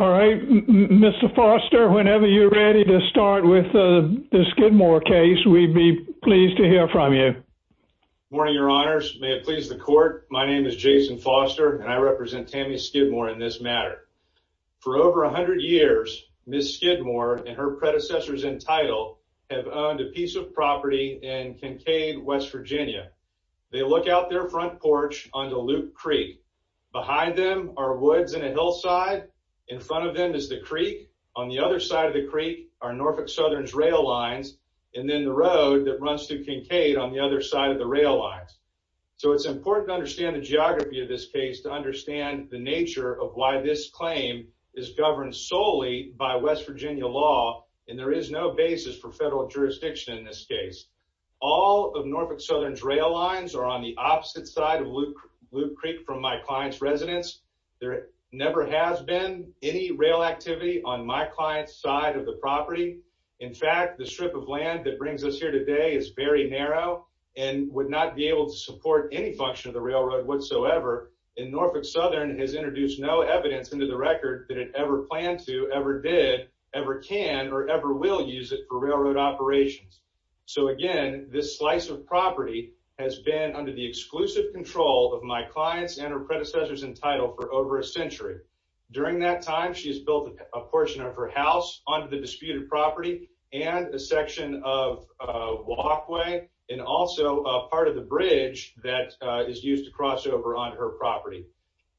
All right, Mr. Foster, whenever you're ready to start with the Skidmore case, we'd be pleased to hear from you. Morning, Your Honors. May it please the Court, my name is Jason Foster, and I represent Tammy Skidmore in this matter. For over 100 years, Ms. Skidmore and her predecessors in title have owned a piece of property in Kincaid, West Virginia. They look out their front porch onto Luke Creek. Behind them are woods and a hillside. In front of them is the creek. On the other side of the creek are Norfolk Southern's rail lines, and then the road that runs through Kincaid on the other side of the rail lines. So it's important to understand the geography of this case to understand the nature of why this claim is governed solely by West Virginia law. And there is no basis for federal jurisdiction in this case. All of Norfolk Southern's rail lines are on the opposite side of Luke Creek from my client's residence. There never has been any rail activity on my client's side of the property. In fact, the strip of land that brings us here today is very narrow and would not be able to support any function of the railroad whatsoever. And Norfolk Southern has introduced no evidence into the record that it ever planned to, ever did, ever can, or ever will use it for railroad operations. So again, this slice of property has been under the exclusive control of my clients and her predecessors in title for over a century. During that time, she's built a portion of her house onto the disputed property and a section of a walkway and also a part of the bridge that is used to cross over onto her property.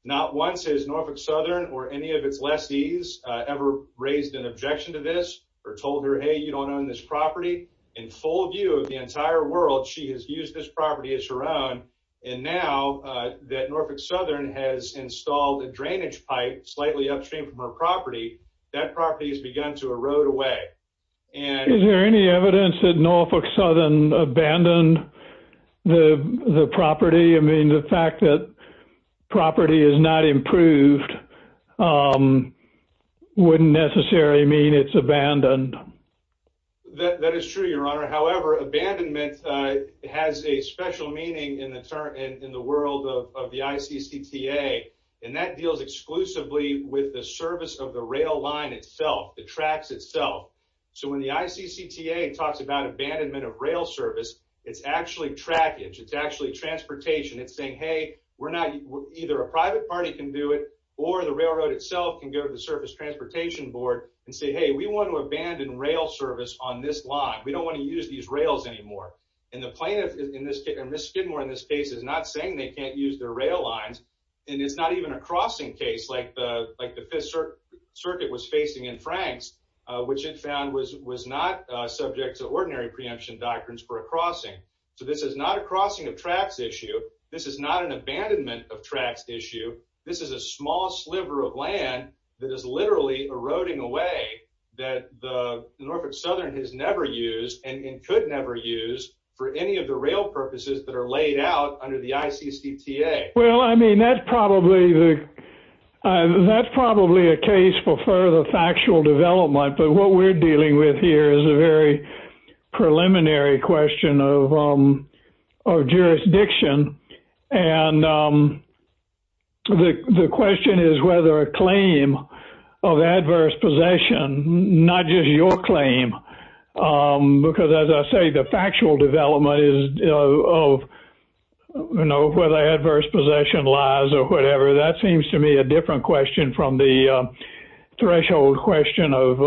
Not once has Norfolk Southern or any of its lessees ever raised an objection to this or told her, hey, you don't own this property. In full view of the entire world, she has used this property as her own. And now that Norfolk Southern has installed a drainage pipe slightly upstream from her property, that property has begun to erode away. And is there any evidence that Norfolk Southern abandoned the property? I mean, the fact that property is not improved wouldn't necessarily mean it's abandoned. That is true, Your Honor. However, abandonment has a special meaning in the world of the ICCTA, and that deals exclusively with the service of the rail line itself, the tracks itself. So when the ICCTA talks about abandonment of rail service, it's actually trackage. It's actually transportation. It's saying, hey, either a private party can do it or the railroad itself can go to the service transportation board and say, hey, we want to abandon rail service on this line. We don't want to use these rails anymore. And the plaintiff in this case, or Ms. Skidmore in this case, is not saying they can't use their rail lines. And it's not even a crossing case like the Fifth Circuit was facing in Franks, which it found was not subject to ordinary preemption doctrines for a crossing. So this is not a crossing of tracks issue. This is not an abandonment of tracks issue. This is a small sliver of land that is literally eroding away that the Norfolk Southern has never used and could never use for any of the rail purposes that are laid out under the ICCTA. Well, I mean, that's probably a case for further factual development. But what we're dealing with here is a very preliminary question of jurisdiction. And the question is whether a claim of adverse possession, not just your claim, because as I say, the factual development is of whether adverse possession lies or whatever. That seems to me a different question from the threshold question of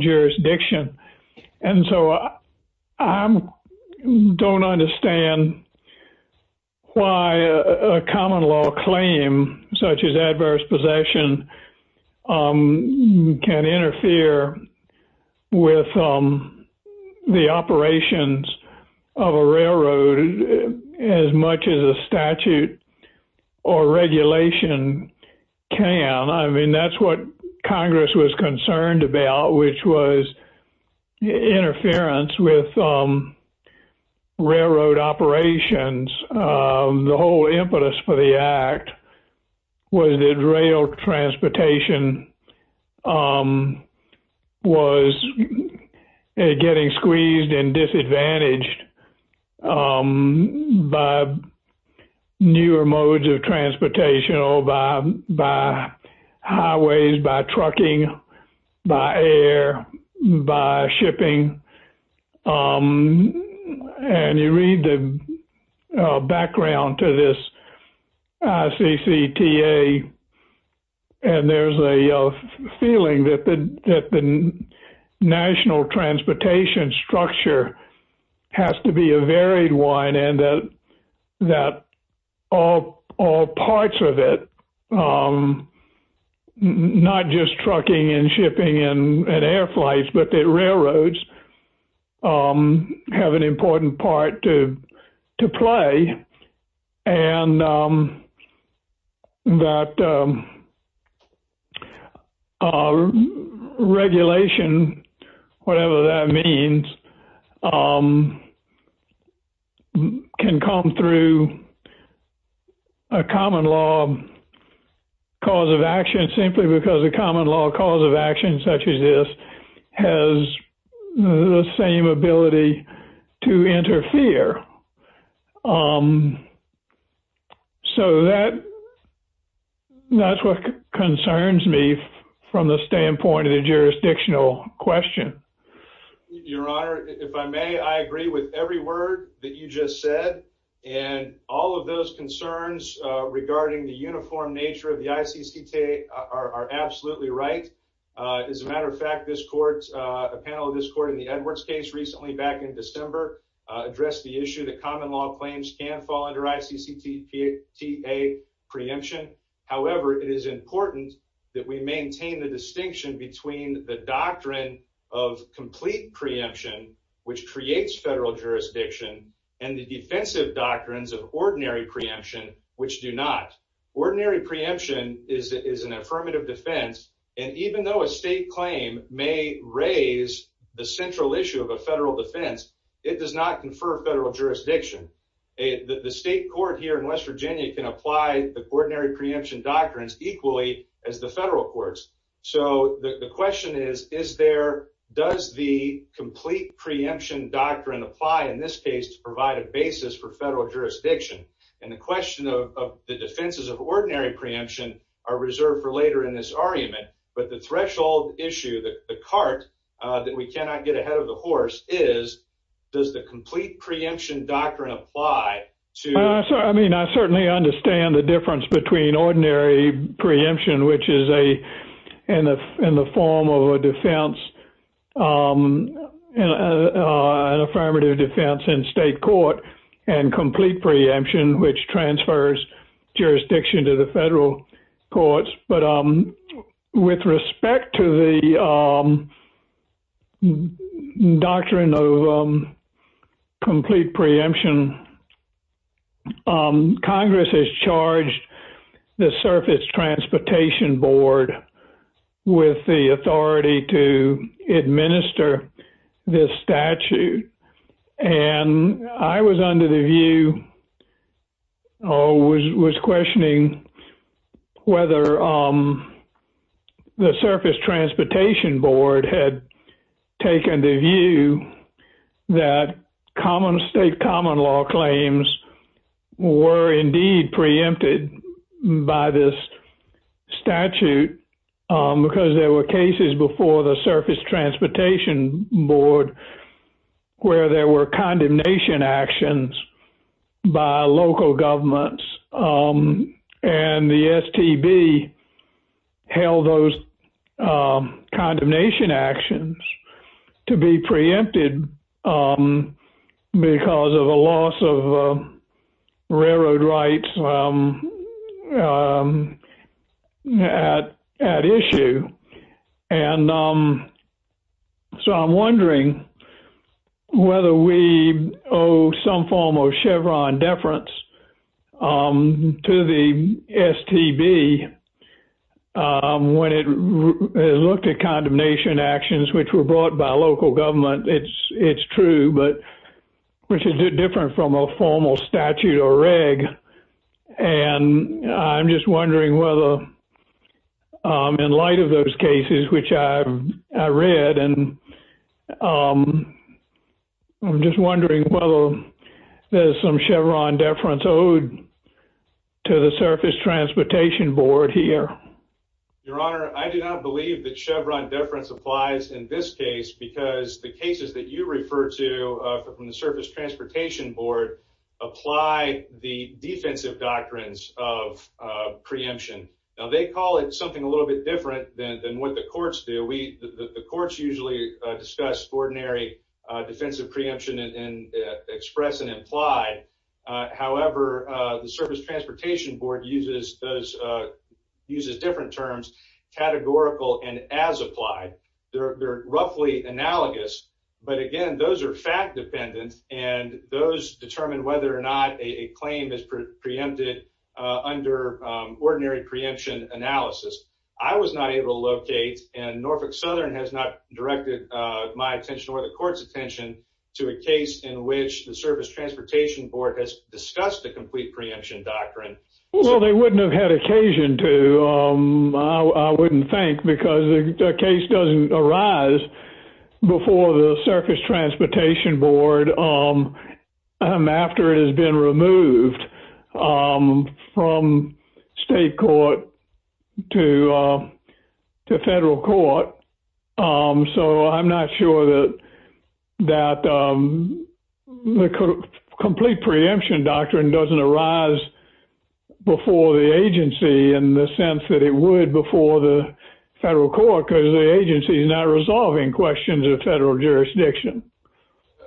jurisdiction. And so I don't understand why a common law claim such as adverse possession can interfere with the operations of a railroad as much as a statute or regulation can. I mean, that's what Congress was concerned about, which was interference with railroad operations. The whole impetus for the act was that rail transportation was getting squeezed and disadvantaged by newer modes of transportation or by highways, by trucking, by air, by shipping. And you read the background to this ICCTA, and there's a feeling that the national transportation structure has to be a varied one and that all parts of it, not just trucking and shipping and air flights, but railroads, have an important part to play and that regulation, whatever that means, can come through a common law cause of action simply because a common law cause of action such as this has the same ability to interfere. So that's what concerns me from the standpoint of the jurisdictional question. Your Honor, if I may, I agree with every word that you just said. And all of those concerns regarding the uniform nature of the ICCTA are absolutely right. As a matter of fact, this court, a panel of this court in the Edwards case recently back in December, addressed the issue that common law claims can fall under ICCTA preemption. However, it is important that we maintain the distinction between the doctrine of complete preemption, which creates federal jurisdiction, and the defensive doctrines of ordinary preemption, which do not. Ordinary preemption is an affirmative defense, and even though a state claim may raise the central issue of a federal defense, it does not confer federal jurisdiction. The state court here in West Virginia can apply the ordinary preemption doctrines equally as the federal courts. So the question is, does the complete preemption doctrine apply in this case to provide a basis for federal jurisdiction? And the question of the defenses of ordinary preemption are reserved for later in this argument. But the threshold issue, the cart that we cannot get ahead of the horse is, does the complete preemption doctrine apply to... I mean, I certainly understand the difference between ordinary preemption, which is in the form of a defense, an affirmative defense in state court, and complete preemption, which transfers jurisdiction to the federal courts. But with respect to the doctrine of complete preemption, Congress has charged the Surface Transportation Board with the authority to administer this statute. And I was under the view, or was questioning, whether the Surface Transportation Board had taken the view that state common law claims were indeed preempted by this statute, because there were cases before the Surface Transportation Board where there were condemnation actions by local governments and the STB held those condemnation actions to be preempted because of a loss of railroad rights at issue. And so I'm wondering whether we owe some form of Chevron deference to the STB when it looked at condemnation actions which were brought by local government. It's true, but which is different from a formal statute or reg. And I'm just wondering whether in light of those cases, which I read, and I'm just wondering whether there's some Chevron deference owed to the Surface Transportation Board here. Your Honor, I do not believe that Chevron deference applies in this case because the cases that you refer to from the Surface Transportation Board apply the defensive doctrines of preemption. Now they call it something a little bit different than what the courts do. The courts usually discuss ordinary defensive preemption and express and imply. However, the Surface Transportation Board uses different terms, categorical and as applied. They're roughly analogous. But again, those are fact dependent and those determine whether or not a claim is preempted under ordinary preemption analysis. I was not able to locate and Norfolk Southern has not directed my attention or the court's attention to a case in which the Surface Transportation Board has discussed the complete preemption doctrine. Well, they wouldn't have had occasion to. I wouldn't think because the case doesn't arise before the Surface Transportation Board after it has been removed from state court to federal court. So I'm not sure that the complete preemption doctrine doesn't arise before the agency in the sense that it would before the federal court because the agency is not resolving questions of federal jurisdiction.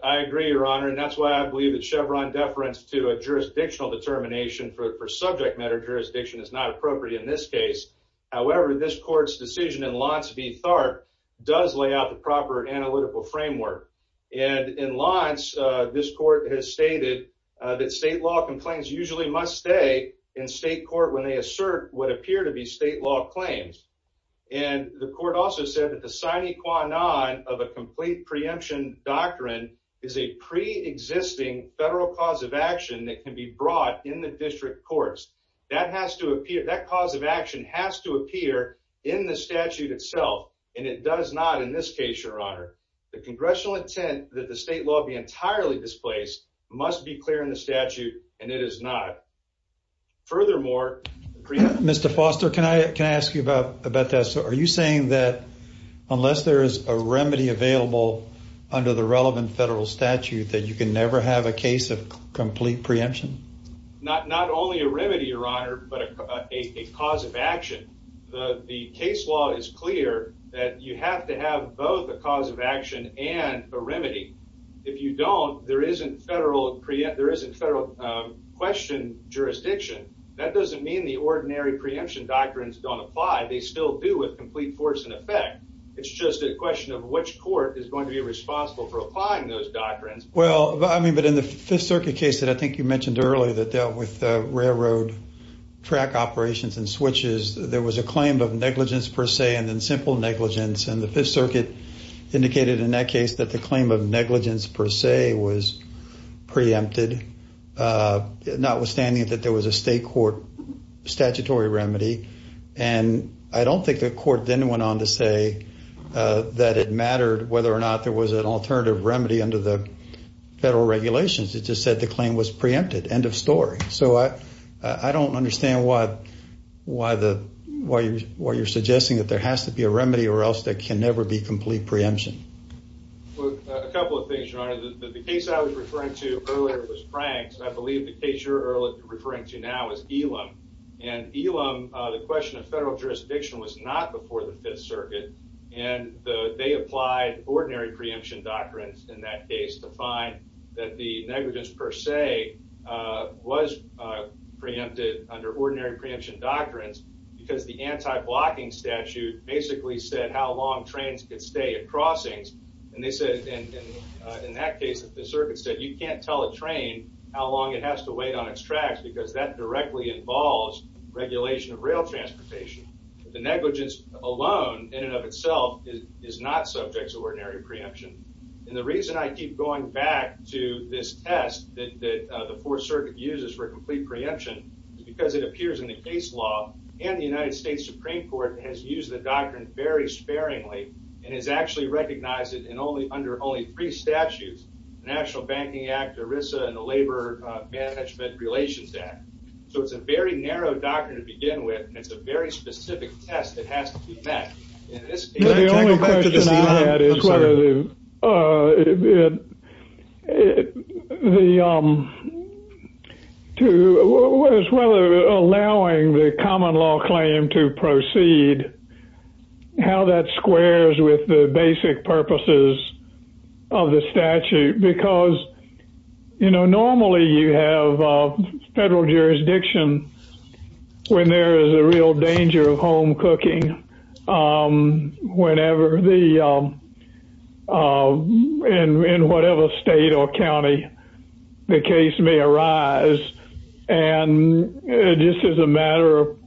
I agree, Your Honor, and that's why I believe that Chevron deference to a jurisdictional determination for subject matter jurisdiction is not appropriate in this case. However, this court's decision in L'Anse v. Tharpe does lay out the proper analytical framework. And in L'Anse, this court has stated that state law complaints usually must stay in state court when they assert what appear to be state law claims. And the court also said that the sine qua non of a complete preemption doctrine is a pre existing federal cause of action that can be brought in the district courts. That has to appear. That cause of action has to appear in the statute itself, and it does not. In this case, Your Honor, the congressional intent that the state law be entirely displaced must be clear in the statute, and it is not. Furthermore, Mr. Foster, can I ask you about that? Are you saying that unless there is a remedy available under the relevant federal statute that you can never have a case of complete preemption? Not only a remedy, Your Honor, but a cause of action. The case law is clear that you have to have both a cause of action and a remedy. If you don't, there isn't federal question jurisdiction. That doesn't mean the ordinary preemption doctrines don't apply. They still do with complete force and effect. It's just a question of which court is going to be responsible for applying those doctrines. Well, I mean, but in the Fifth Circuit case that I think you mentioned earlier that dealt with railroad track operations and switches, there was a claim of negligence per se and then simple negligence. And the Fifth Circuit indicated in that case that the claim of negligence per se was preempted, notwithstanding that there was a state court statutory remedy. And I don't think the court then went on to say that it mattered whether or not there was an alternative remedy under the federal regulations. It just said the claim was preempted. End of story. So I don't understand why you're suggesting that there has to be a remedy or else there can never be complete preemption. Well, a couple of things, Your Honor. The case I was referring to earlier was Frank's, and I believe the case you're referring to now is Elam. And Elam, the question of federal jurisdiction was not before the Fifth Circuit, and they applied ordinary preemption doctrines in that case to find that the negligence per se was preempted under ordinary preemption doctrines because the anti-blocking statute basically said how long trains could stay at crossings. And they said in that case that the circuit said you can't tell a train how long it has to wait on its tracks because that directly involves regulation of rail transportation. The negligence alone in and of itself is not subject to ordinary preemption. And the reason I keep going back to this test that the Fourth Circuit uses for complete preemption is because it appears in the case law and the United States Supreme Court has used the doctrine very sparingly and has actually recognized it under only three statutes, the National Banking Act, ERISA, and the Labor Management Relations Act. So it's a very narrow doctrine to begin with, and it's a very specific test that has to be met. Can I go back to this Elam? Whenever the, in whatever state or county, the case may arise, and just as a matter of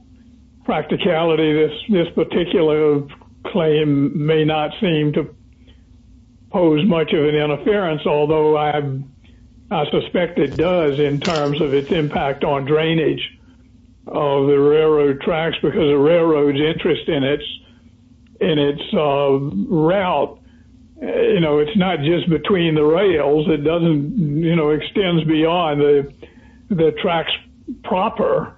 practicality, this particular claim may not seem to pose much of an interference, although I suspect it does in terms of its impact on drainage of the railroad tracks because the railroad's interest in it. And its route, you know, it's not just between the rails. It doesn't, you know, extends beyond the tracks proper.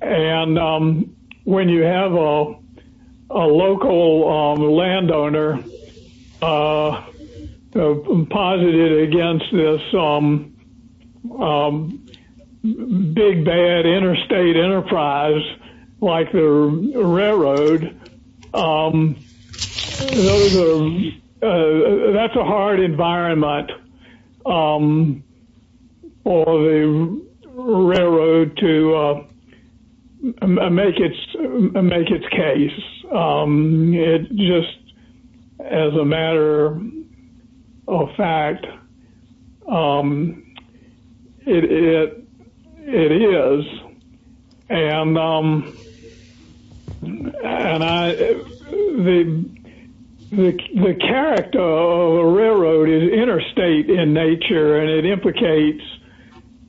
And when you have a local landowner posited against this big, bad interstate enterprise, like the railroad, that's a hard environment for the railroad to operate. Make its, make its case. It just, as a matter of fact, it is. And the character of a railroad is interstate in nature, and it implicates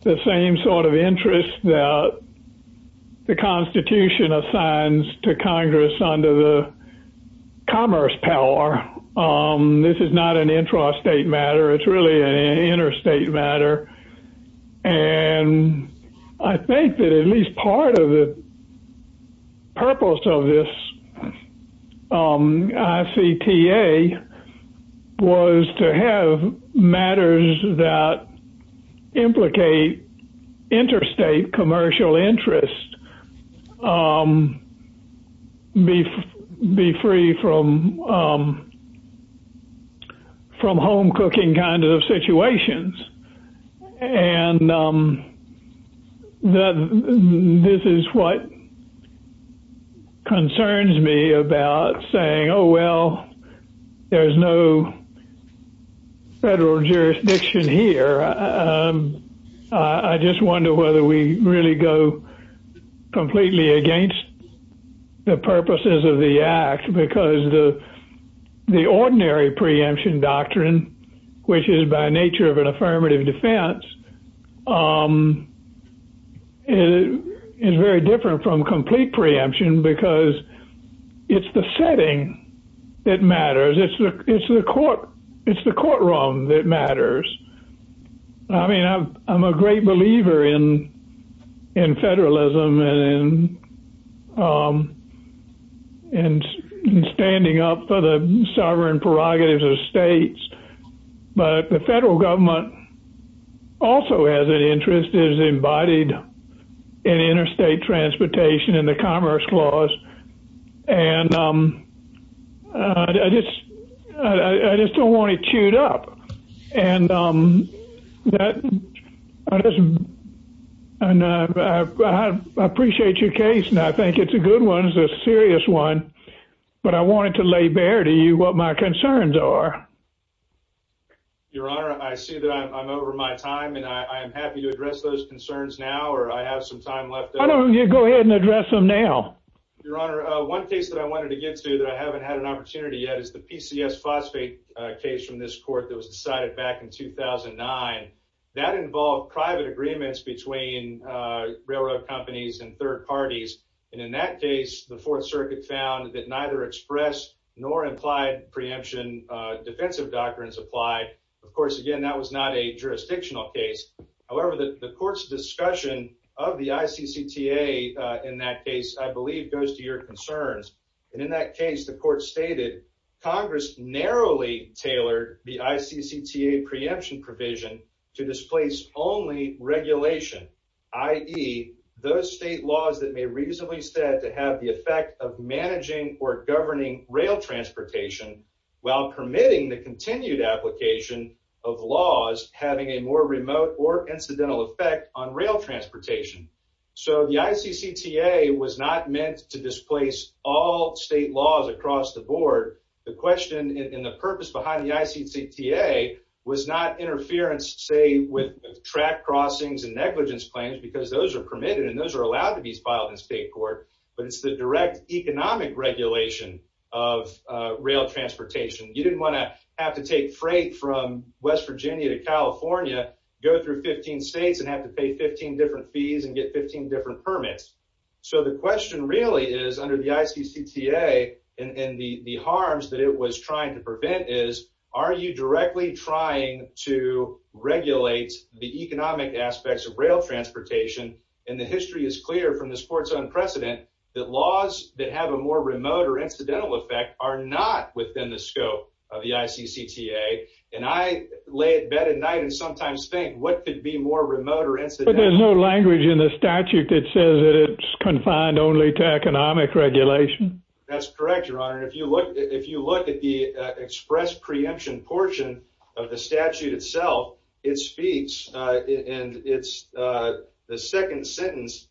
the same sort of interest that the Constitution assigns to Congress under the Commerce Power. This is not an intrastate matter. It's really an interstate matter. And I think that at least part of the purpose of this ICTA was to have matters that implicate interstate commercial interest be free from home cooking kind of situations. And this is what concerns me about saying, oh, well, there's no federal jurisdiction here. I just wonder whether we really go completely against the purposes of the Act because the ordinary preemption doctrine, which is by nature of an affirmative defense, is very different from complete preemption because it's the setting that matters. It's the courtroom that matters. I mean, I'm a great believer in federalism and standing up for the sovereign prerogatives of states, but the federal government also has an interest, is embodied in interstate transportation in the Commerce Clause. And I just don't want it chewed up. And I appreciate your case, and I think it's a good one. It's a serious one. But I wanted to lay bare to you what my concerns are. Your Honor, I see that I'm over my time, and I'm happy to address those concerns now, or I have some time left. Why don't you go ahead and address them now? Your Honor, one case that I wanted to get to that I haven't had an opportunity yet is the PCS phosphate case from this court that was decided back in 2009. That involved private agreements between railroad companies and third parties. And in that case, the Fourth Circuit found that neither express nor implied preemption defensive doctrines applied. Of course, again, that was not a jurisdictional case. However, the court's discussion of the ICCTA in that case, I believe, goes to your concerns. And in that case, the court stated, Congress narrowly tailored the ICCTA preemption provision to displace only regulation, i.e., those state laws that may reasonably stand to have the effect of managing or governing rail transportation, while permitting the continued application of laws having a more remote or incidental effect on rail transportation. So the ICCTA was not meant to displace all state laws across the board. The question and the purpose behind the ICCTA was not interference, say, with track crossings and negligence claims, because those are permitted and those are allowed to be filed in state court. But it's the direct economic regulation of rail transportation. You didn't want to have to take freight from West Virginia to California, go through 15 states and have to pay 15 different fees and get 15 different permits. So the question really is, under the ICCTA, and the harms that it was trying to prevent is, are you directly trying to regulate the economic aspects of rail transportation? And the history is clear from this court's unprecedented that laws that have a more remote or incidental effect are not within the scope of the ICCTA. And I lay in bed at night and sometimes think, what could be more remote or incidental? But there's no language in the statute that says that it's confined only to economic regulation. That's correct, Your Honor. If you look at the express preemption portion of the statute itself, it speaks. And it's the second sentence,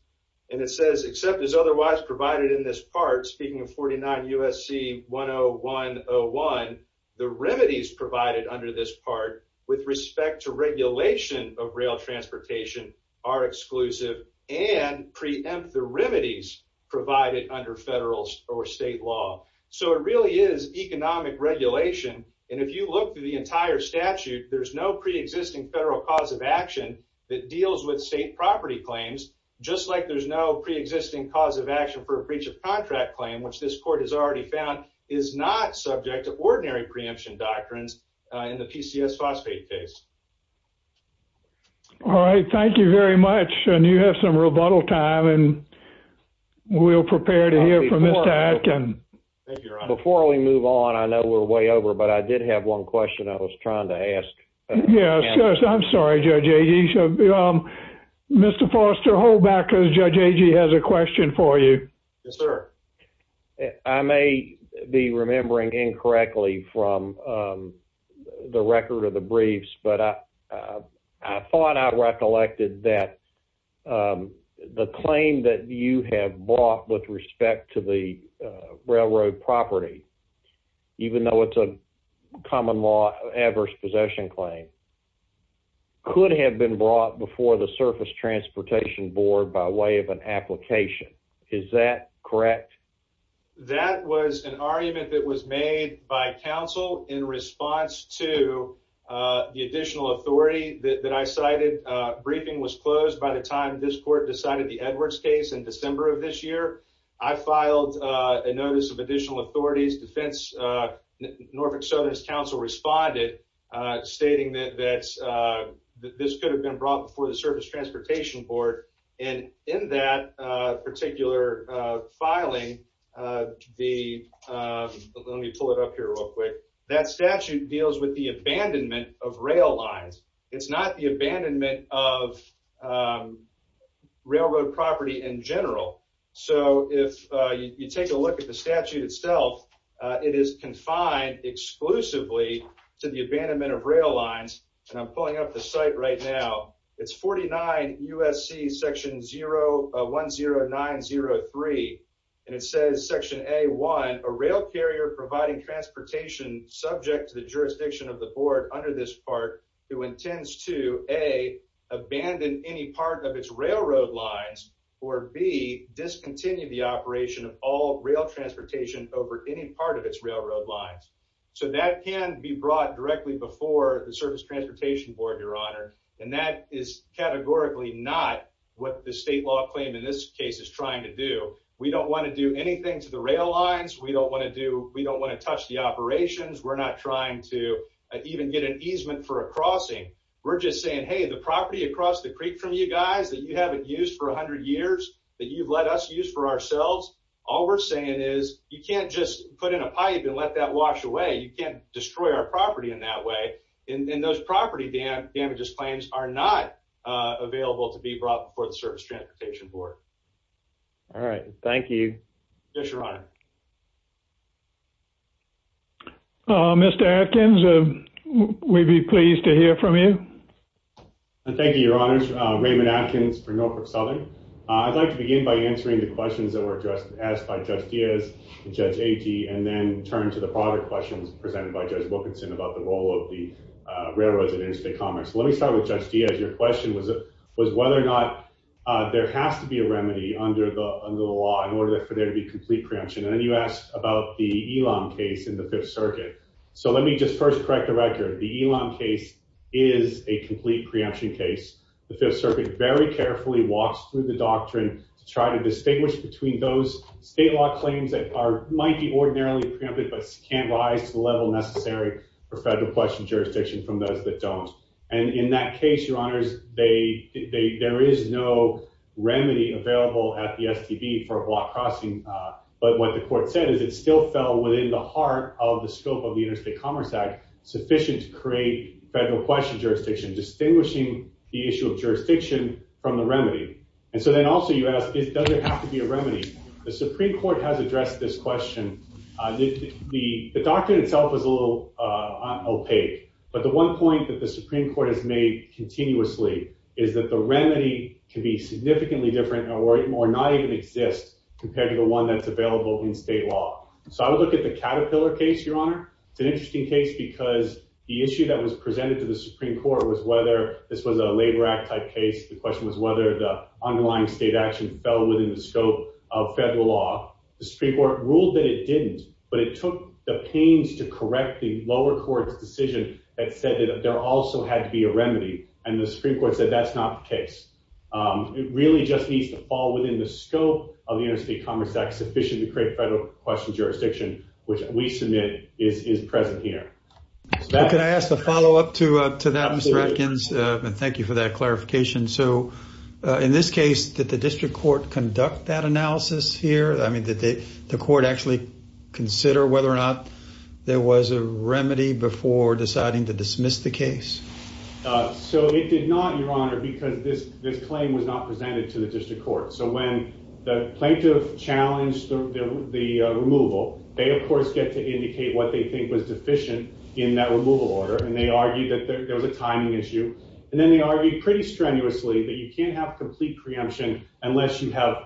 and it says, except as otherwise provided in this part, speaking of 49 U.S.C. 101.01, the remedies provided under this part with respect to regulation of rail transportation are exclusive and preempt the remedies provided under federal or state law. So it really is economic regulation. And if you look through the entire statute, there's no preexisting federal cause of action that deals with state property claims, just like there's no preexisting cause of action for a breach of contract claim, which this court has already found is not subject to ordinary preemption doctrines in the PCS phosphate case. All right. Thank you very much. And you have some rebuttal time, and we'll prepare to hear from Mr. Atkin. Before we move on, I know we're way over, but I did have one question I was trying to ask. Yes. I'm sorry, Judge Agee. Mr. Forrester, hold back, because Judge Agee has a question for you. Yes, sir. I may be remembering incorrectly from the record of the briefs, but I thought I recollected that the claim that you have brought with respect to the railroad property, even though it's a common law adverse possession claim, could have been brought before the Surface Transportation Board by way of an application. Is that correct? That was an argument that was made by counsel in response to the additional authority that I cited. Briefing was closed by the time this court decided the Edwards case in December of this year. I filed a notice of additional authorities. Norfolk Southerners counsel responded, stating that this could have been brought before the Surface Transportation Board. And in that particular filing, let me pull it up here real quick. That statute deals with the abandonment of rail lines. It's not the abandonment of railroad property in general. So if you take a look at the statute itself, it is confined exclusively to the abandonment of rail lines, and I'm pulling up the site right now. It's 49 U.S.C. Section 10903, and it says Section A.1, a rail carrier providing transportation subject to the jurisdiction of the Board under this part, who intends to, A, abandon any part of its railroad lines, or B, discontinue the operation of all rail transportation over any part of its railroad lines. So that can be brought directly before the Surface Transportation Board, Your Honor, and that is categorically not what the state law claim in this case is trying to do. We don't want to do anything to the rail lines. We don't want to touch the operations. We're not trying to even get an easement for a crossing. We're just saying, hey, the property across the creek from you guys that you haven't used for 100 years, that you've let us use for ourselves, all we're saying is you can't just put in a pipe and let that wash away. You can't destroy our property in that way, and those property damages claims are not available to be brought before the Surface Transportation Board. All right. Thank you. Yes, Your Honor. Mr. Atkins, we'd be pleased to hear from you. Thank you, Your Honors. Raymond Atkins for Norfolk Southern. I'd like to begin by answering the questions that were asked by Judge Diaz and Judge Agee, and then turn to the product questions presented by Judge Wilkinson about the role of the railroads in interstate commerce. Let me start with Judge Diaz. Your question was whether or not there has to be a remedy under the law in order for there to be complete preemption. And then you asked about the Elam case in the Fifth Circuit. So let me just first correct the record. The Elam case is a complete preemption case. The Fifth Circuit very carefully walks through the doctrine to try to distinguish between those state law claims that might be ordinarily preempted but can't rise to the level necessary for federal question jurisdiction from those that don't. And in that case, Your Honors, there is no remedy available at the STB for a block crossing. But what the court said is it still fell within the heart of the scope of the Interstate Commerce Act sufficient to create federal question jurisdiction, distinguishing the issue of jurisdiction from the remedy. And so then also you ask, does it have to be a remedy? The doctrine itself is a little opaque. But the one point that the Supreme Court has made continuously is that the remedy can be significantly different or not even exist compared to the one that's available in state law. So I would look at the Caterpillar case, Your Honor. It's an interesting case because the issue that was presented to the Supreme Court was whether this was a labor act type case. The question was whether the underlying state action fell within the scope of federal law. The Supreme Court ruled that it didn't. But it took the pains to correct the lower court's decision that said that there also had to be a remedy. And the Supreme Court said that's not the case. It really just needs to fall within the scope of the Interstate Commerce Act sufficient to create federal question jurisdiction, which we submit is present here. Can I ask a follow up to that, Mr. Atkins? Thank you for that clarification. So in this case, did the district court conduct that analysis here? I mean, did the court actually consider whether or not there was a remedy before deciding to dismiss the case? So it did not, Your Honor, because this claim was not presented to the district court. So when the plaintiff challenged the removal, they, of course, get to indicate what they think was deficient in that removal order. And they argued that there was a timing issue. And then they argued pretty strenuously that you can't have complete preemption unless you have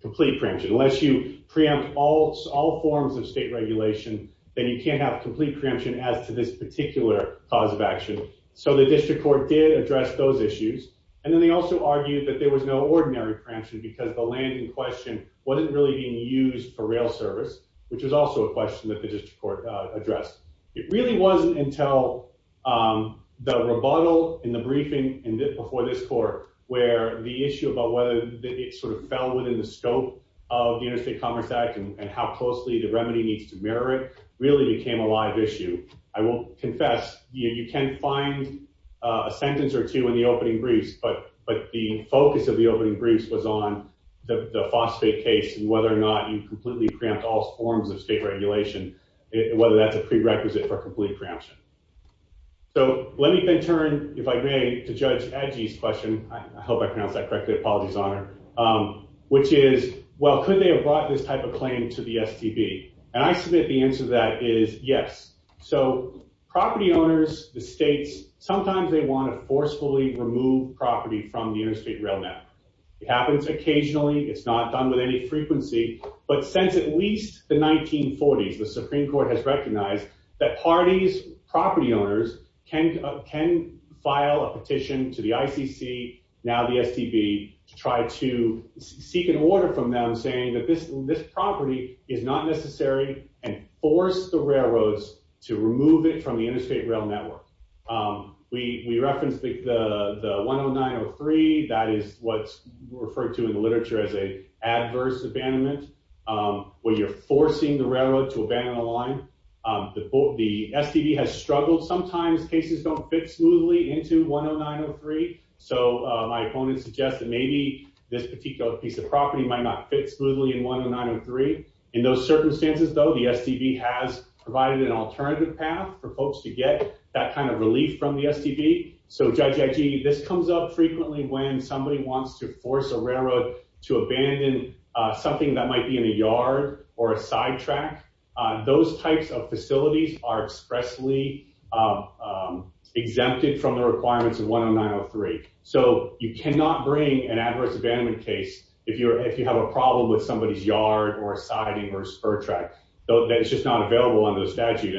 complete preemption. Unless you preempt all forms of state regulation, then you can't have complete preemption as to this particular cause of action. So the district court did address those issues. And then they also argued that there was no ordinary preemption because the land in question wasn't really being used for rail service, which is also a question that the district court addressed. It really wasn't until the rebuttal in the briefing before this court where the issue about whether it sort of fell within the scope of the Interstate Commerce Act and how closely the remedy needs to mirror it really became a live issue. I will confess you can find a sentence or two in the opening briefs. But the focus of the opening briefs was on the phosphate case and whether or not you completely preempt all forms of state regulation, whether that's a prerequisite for complete preemption. So let me then turn, if I may, to Judge Adjee's question. I hope I pronounced that correctly. Apologies, Honor. Which is, well, could they have brought this type of claim to the STB? And I submit the answer to that is yes. So property owners, the states, sometimes they want to forcefully remove property from the interstate rail network. It happens occasionally. It's not done with any frequency. But since at least the 1940s, the Supreme Court has recognized that parties, property owners, can file a petition to the ICC, now the STB, to try to seek an order from them saying that this property is not necessary and force the railroads to remove it from the interstate rail network. We referenced the 10903. That is what's referred to in the literature as an adverse abandonment, where you're forcing the railroad to abandon the line. The STB has struggled sometimes. Cases don't fit smoothly into 10903. So my opponent suggests that maybe this particular piece of property might not fit smoothly in 10903. In those circumstances, though, the STB has provided an alternative path for folks to get that kind of relief from the STB. This comes up frequently when somebody wants to force a railroad to abandon something that might be in a yard or a sidetrack. Those types of facilities are expressly exempted from the requirements of 10903. So you cannot bring an adverse abandonment case if you have a problem with somebody's yard or a siding or a spur track. That's just not available under the statute.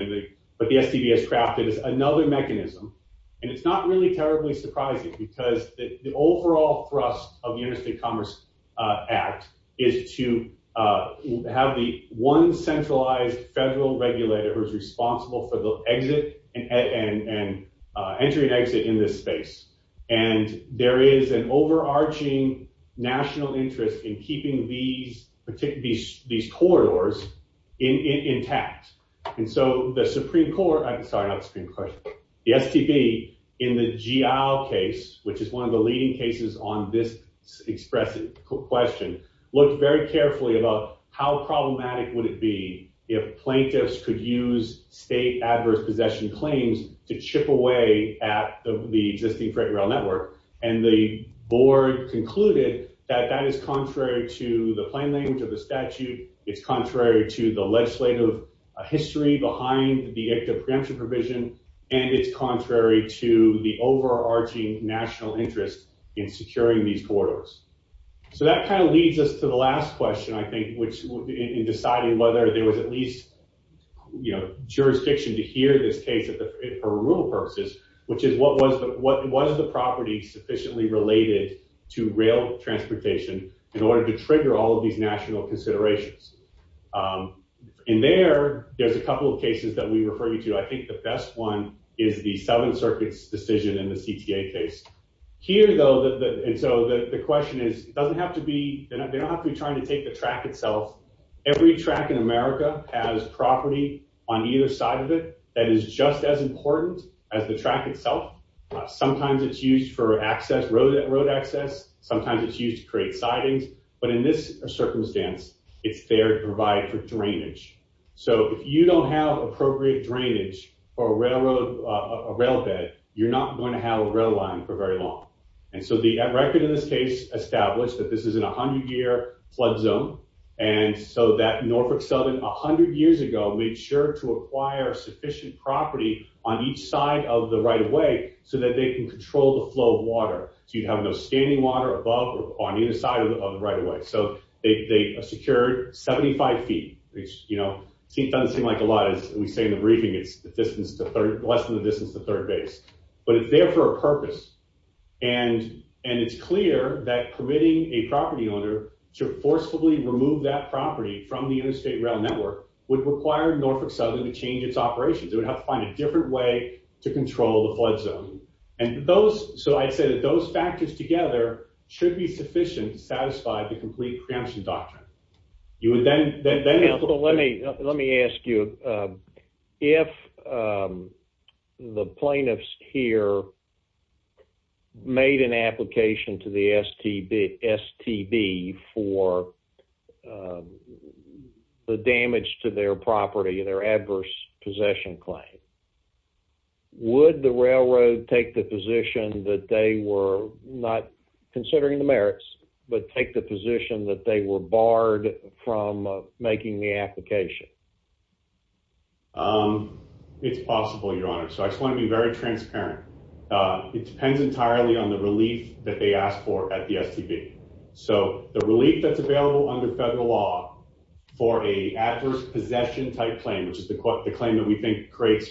But the STB has crafted another mechanism. And it's not really terribly surprising because the overall thrust of the Interstate Commerce Act is to have the one centralized federal regulator who is responsible for the exit and entry and exit in this space. And there is an overarching national interest in keeping these corridors intact. And so the Supreme Court — sorry, not the Supreme Court — the STB, in the Geale case, which is one of the leading cases on this expressive question, looked very carefully about how problematic would it be if plaintiffs could use state adverse possession claims to chip away at the existing freight rail network. And the board concluded that that is contrary to the plain language of the statute. It's contrary to the legislative history behind the active preemption provision. And it's contrary to the overarching national interest in securing these corridors. So that kind of leads us to the last question, I think, in deciding whether there was at least jurisdiction to hear this case for rural purposes, which is what was the property sufficiently related to rail transportation in order to trigger all of these national considerations. And there, there's a couple of cases that we refer you to. I think the best one is the Seventh Circuit's decision in the CTA case. Here, though — and so the question is, it doesn't have to be — they don't have to be trying to take the track itself. Every track in America has property on either side of it that is just as important as the track itself. Sometimes it's used for access, road access. Sometimes it's used to create sidings. But in this circumstance, it's there to provide for drainage. So if you don't have appropriate drainage for a railroad, a rail bed, you're not going to have a rail line for very long. And so the record in this case established that this is an 100-year flood zone. And so that Norfolk Southern 100 years ago made sure to acquire sufficient property on each side of the right-of-way so that they can control the flow of water. So you'd have no standing water above or on either side of the right-of-way. So they secured 75 feet, which, you know, doesn't seem like a lot. As we say in the briefing, it's less than the distance to the third base. But it's there for a purpose. And it's clear that permitting a property owner to forcefully remove that property from the interstate rail network would require Norfolk Southern to change its operations. It would have to find a different way to control the flood zone. So I'd say that those factors together should be sufficient to satisfy the complete preemption doctrine. Let me ask you. If the plaintiffs here made an application to the STB for the damage to their property, their adverse possession claim, would the railroad take the position that they were not considering the merits, but take the position that they were barred from making the application? It's possible, Your Honor. So I just want to be very transparent. It depends entirely on the relief that they ask for at the STB. So the relief that's available under federal law for a adverse possession type claim, which is the claim that we think creates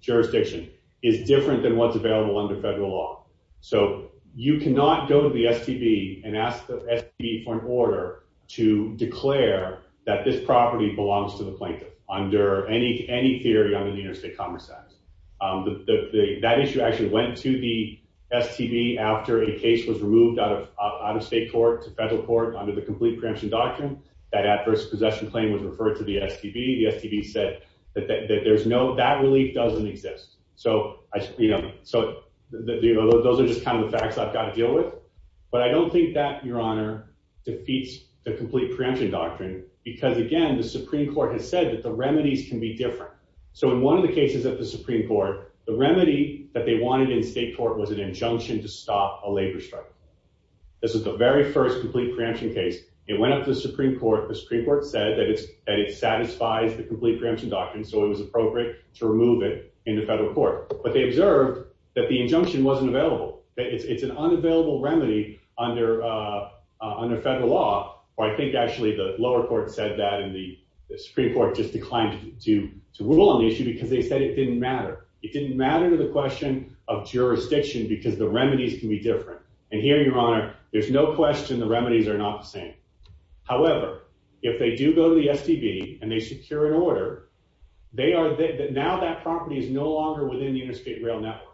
jurisdiction, is different than what's available under federal law. So you cannot go to the STB and ask the STB for an order to declare that this property belongs to the plaintiff under any theory under the Interstate Commerce Act. That issue actually went to the STB after a case was removed out of state court to federal court under the complete preemption doctrine. That adverse possession claim was referred to the STB. The STB said that that relief doesn't exist. So those are just kind of the facts I've got to deal with. But I don't think that, Your Honor, defeats the complete preemption doctrine because, again, the Supreme Court has said that the remedies can be different. So in one of the cases at the Supreme Court, the remedy that they wanted in state court was an injunction to stop a labor strike. This is the very first complete preemption case. It went up to the Supreme Court. The Supreme Court said that it satisfies the complete preemption doctrine, so it was appropriate to remove it in the federal court. But they observed that the injunction wasn't available, that it's an unavailable remedy under federal law. I think, actually, the lower court said that, and the Supreme Court just declined to rule on the issue because they said it didn't matter. It didn't matter to the question of jurisdiction because the remedies can be different. And here, Your Honor, there's no question the remedies are not the same. However, if they do go to the STB and they secure an order, now that property is no longer within the interstate rail network.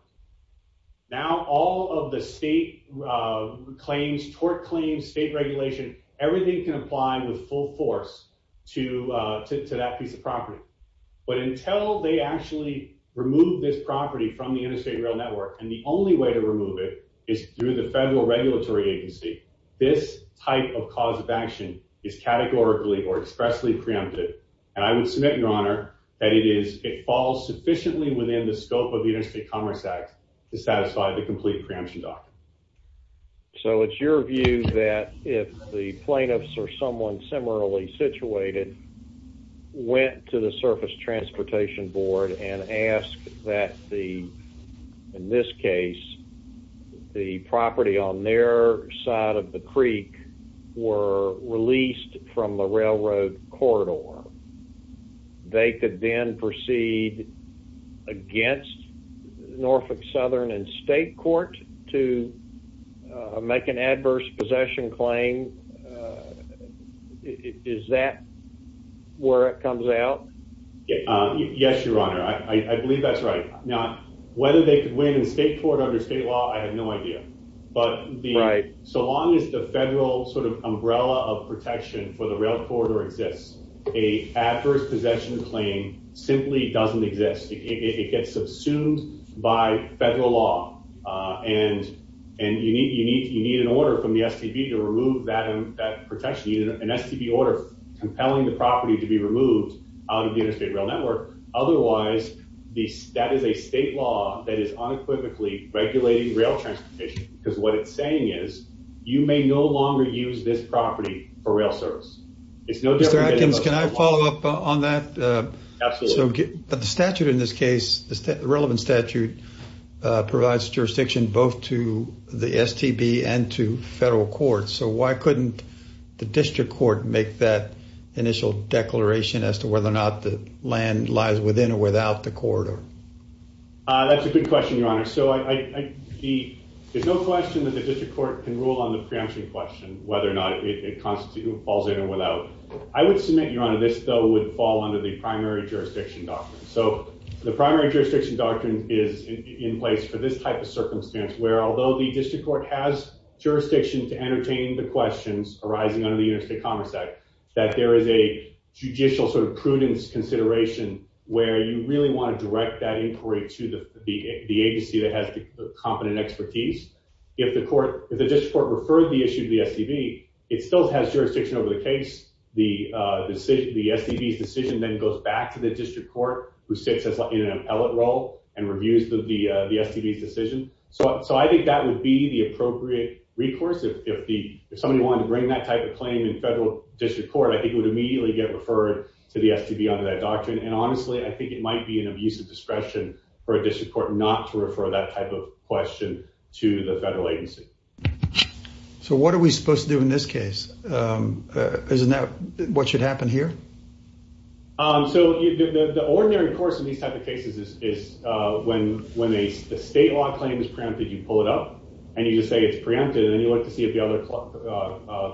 Now all of the state claims, tort claims, state regulation, everything can apply with full force to that piece of property. But until they actually remove this property from the interstate rail network, and the only way to remove it is through the federal regulatory agency, this type of cause of action is categorically or expressly preempted. And I would submit, Your Honor, that it falls sufficiently within the scope of the Interstate Commerce Act to satisfy the complete preemption doctrine. So it's your view that if the plaintiffs or someone similarly situated went to the Surface Transportation Board and asked that the, in this case, the property on their side of the creek were released from the railroad corridor, they could then proceed against Norfolk Southern and state court to make an adverse possession claim? Is that where it comes out? Yes, Your Honor. I believe that's right. Now, whether they could win in state court under state law, I have no idea. But so long as the federal sort of umbrella of protection for the railroad corridor exists, a adverse possession claim simply doesn't exist. It gets subsumed by federal law, and you need an order from the STB to remove that protection, an STB order compelling the property to be removed out of the interstate rail network. Otherwise, that is a state law that is unequivocally regulating rail transportation. Because what it's saying is you may no longer use this property for rail service. Mr. Atkins, can I follow up on that? Absolutely. The statute in this case, the relevant statute, provides jurisdiction both to the STB and to federal courts. So why couldn't the district court make that initial declaration as to whether or not the land lies within or without the corridor? That's a good question, Your Honor. So there's no question that the district court can rule on the preemption question, whether or not it falls in or without. I would submit, Your Honor, this bill would fall under the primary jurisdiction doctrine. So the primary jurisdiction doctrine is in place for this type of circumstance, where although the district court has jurisdiction to entertain the questions arising under the Interstate Commerce Act, that there is a judicial sort of prudence consideration where you really want to direct that inquiry to the agency that has the competent expertise. If the district court referred the issue to the STB, it still has jurisdiction over the case. The STB's decision then goes back to the district court, who sits in an appellate role and reviews the STB's decision. So I think that would be the appropriate recourse. If somebody wanted to bring that type of claim in federal district court, I think it would immediately get referred to the STB under that doctrine. And honestly, I think it might be an abuse of discretion for a district court not to refer that type of question to the federal agency. So what are we supposed to do in this case? Isn't that what should happen here? So the ordinary course in these type of cases is when a state law claim is preempted, you pull it up and you just say it's preempted, and then you look to see if the other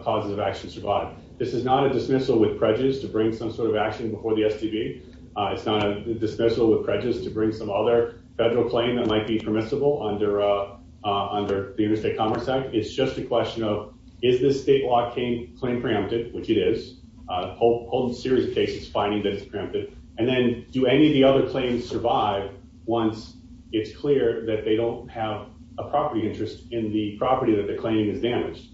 causes of action survive. This is not a dismissal with prejudice to bring some sort of action before the STB. It's not a dismissal with prejudice to bring some other federal claim that might be permissible under the Interstate Commerce Act. It's just a question of is this state law claim preempted, which it is, a whole series of cases finding that it's preempted, and then do any of the other claims survive once it's clear that they don't have a property interest in the property that the claim is damaged.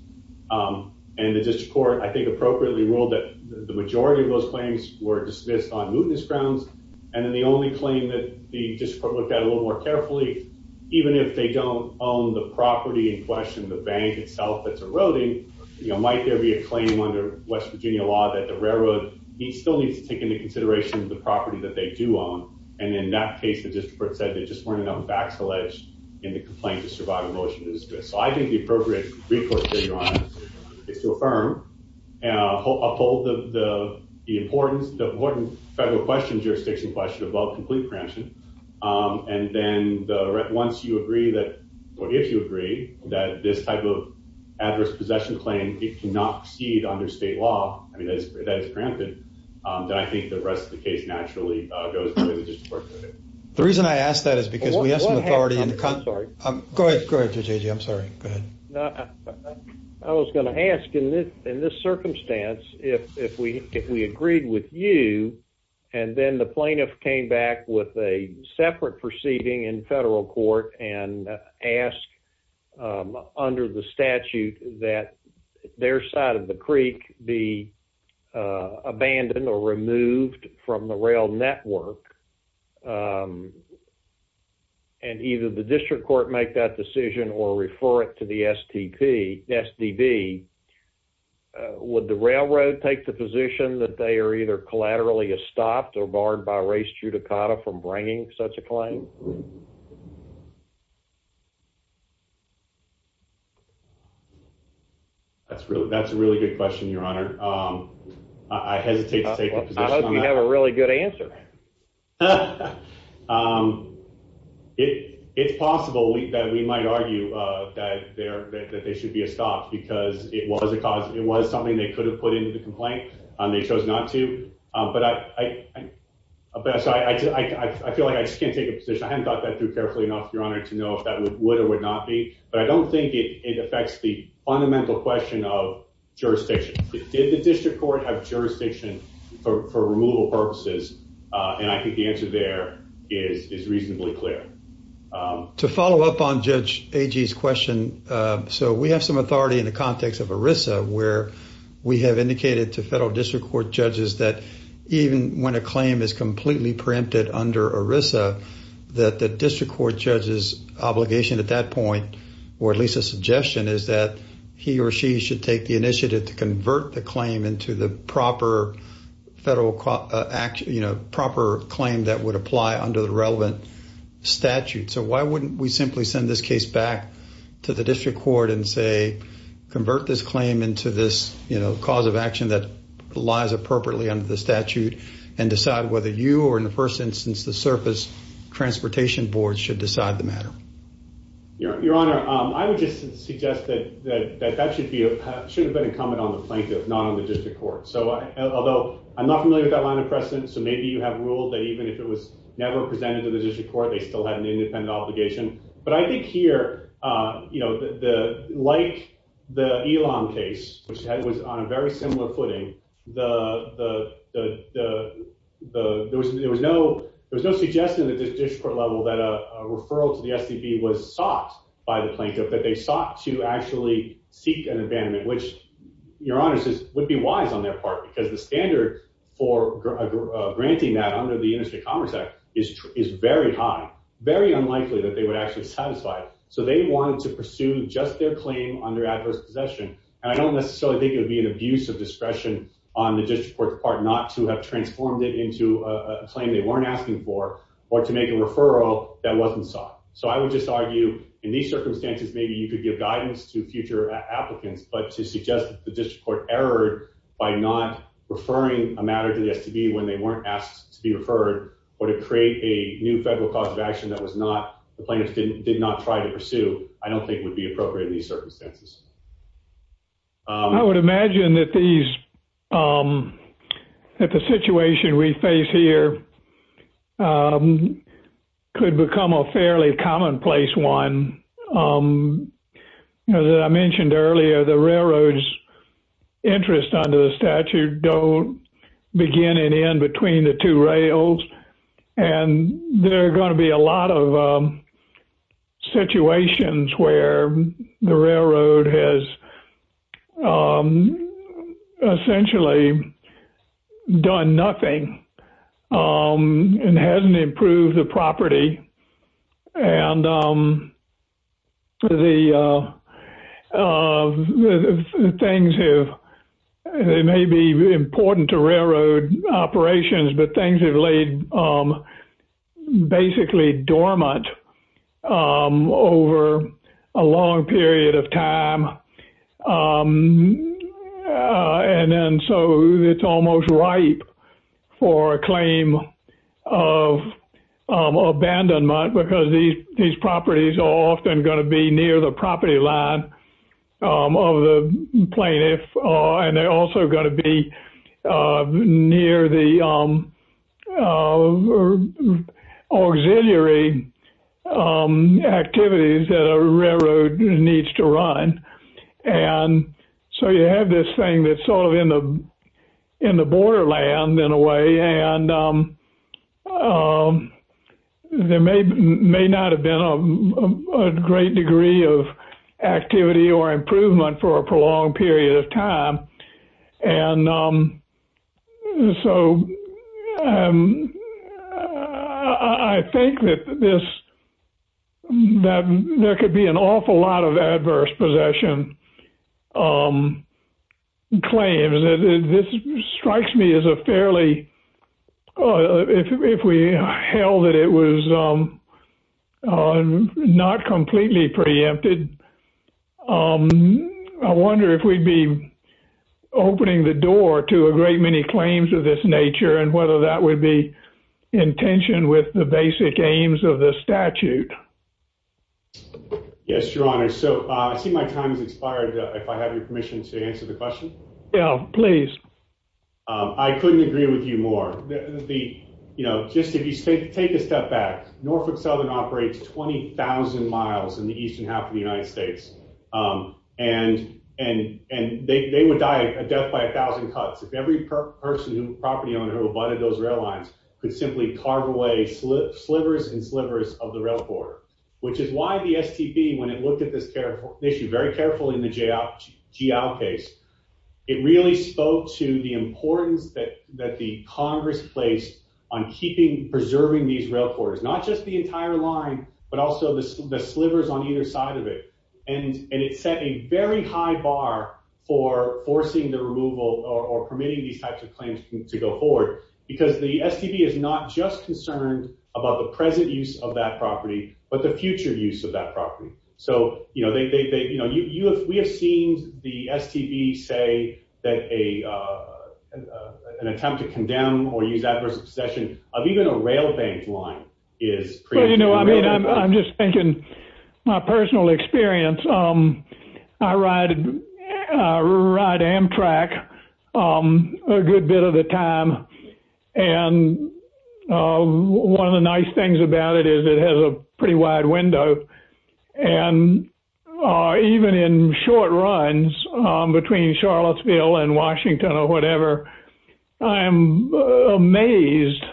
And the district court, I think, appropriately ruled that the majority of those claims were dismissed on mootness grounds, and then the only claim that the district court looked at a little more carefully, even if they don't own the property in question, the bank itself that's eroding, might there be a claim under West Virginia law that the railroad still needs to take into consideration the property that they do own? And in that case, the district court said there just weren't enough facts alleged in the complaint to survive a motion to dismiss. So I think the appropriate recourse here, Your Honor, is to affirm, uphold the importance, the important federal question, jurisdiction question about complete preemption, and then once you agree that, or if you agree that this type of adverse possession claim, it cannot proceed under state law, I mean, that it's preempted, then I think the rest of the case naturally goes to the district court. The reason I ask that is because we have some authority in the... I'm sorry. Go ahead, JJ. I'm sorry. Go ahead. I was going to ask, in this circumstance, if we agreed with you, and then the plaintiff came back with a separate proceeding in federal court and asked, under the statute, that their side of the creek be abandoned or removed from the rail network, and either the district court make that decision or refer it to the STP, SDB, would the railroad take the position that they are either collaterally estopped or barred by race judicata from bringing such a claim? That's a really good question, Your Honor. I hesitate to take a position on that. I hope you have a really good answer. It's possible that we might argue that they should be estopped because it was something they could have put into the complaint, and they chose not to, but I feel like I just can't take a position. I haven't thought that through carefully enough, Your Honor, to know if that would or would not be, but I don't think it affects the fundamental question of jurisdiction. Did the district court have jurisdiction for removal purposes? And I think the answer there is reasonably clear. To follow up on Judge Agee's question, so we have some authority in the context of ERISA where we have indicated to federal district court judges that even when a claim is completely preempted under ERISA, that the district court judge's obligation at that point, or at least a suggestion, is that he or she should take the initiative to convert the claim into the proper claim that would apply under the relevant statute. So why wouldn't we simply send this case back to the district court and say, you know, cause of action that lies appropriately under the statute, and decide whether you or, in the first instance, the surface transportation board should decide the matter? Your Honor, I would just suggest that that should have been a comment on the plaintiff, not on the district court. Although I'm not familiar with that line of precedent, so maybe you have ruled that even if it was never presented to the district court, they still had an independent obligation. But I think here, you know, like the Elam case, which was on a very similar footing, there was no suggestion at the district court level that a referral to the STB was sought by the plaintiff, that they sought to actually seek an abandonment, which, Your Honor, would be wise on their part, because the standard for granting that under the Industry Commerce Act is very high, very unlikely that they would actually satisfy it. So they wanted to pursue just their claim under adverse possession, and I don't necessarily think it would be an abuse of discretion on the district court's part not to have transformed it into a claim they weren't asking for, or to make a referral that wasn't sought. So I would just argue, in these circumstances, maybe you could give guidance to future applicants, but to suggest that the district court erred by not referring a matter to the STB when they weren't asked to be referred, or to create a new federal cause of action that the plaintiffs did not try to pursue, I don't think would be appropriate in these circumstances. I would imagine that the situation we face here could become a fairly commonplace one. As I mentioned earlier, the railroad's interest under the statute don't begin and end between the two rails, and there are going to be a lot of situations where the railroad has essentially done nothing and hasn't improved the property. It may be important to railroad operations, but things have laid basically dormant over a long period of time, and so it's almost ripe for a claim of abandonment, because these properties are often going to be near the property line of the plaintiff, and they're also going to be near the auxiliary activities that a railroad needs to run. So you have this thing that's sort of in the borderland, in a way, and there may not have been a great degree of activity or improvement for a prolonged period of time. And so I think that there could be an awful lot of adverse possession claims. This strikes me as a fairly—if we held that it was not completely preempted, I wonder if we'd be opening the door to a great many claims of this nature and whether that would be in tension with the basic aims of the statute. Yes, Your Honor. So I see my time has expired, if I have your permission to answer the question. Yeah, please. I couldn't agree with you more. Just if you take a step back, Norfolk Southern operates 20,000 miles in the eastern half of the United States, and they would die a death by a thousand cuts if every person, property owner, who abutted those rail lines could simply carve away slivers and slivers of the rail corridor, which is why the STB, when it looked at this issue very carefully in the G.L. case, it really spoke to the importance that the Congress placed on preserving these rail corridors, not just the entire line but also the slivers on either side of it. And it set a very high bar for forcing the removal or permitting these types of claims to go forward because the STB is not just concerned about the present use of that property but the future use of that property. So, you know, we have seen the STB say that an attempt to condemn or use adverse obsession of even a rail bank line is... Well, you know, I mean, I'm just thinking my personal experience. I ride Amtrak a good bit of the time, and one of the nice things about it is it has a pretty wide window, and even in short runs between Charlottesville and Washington or whatever, I am amazed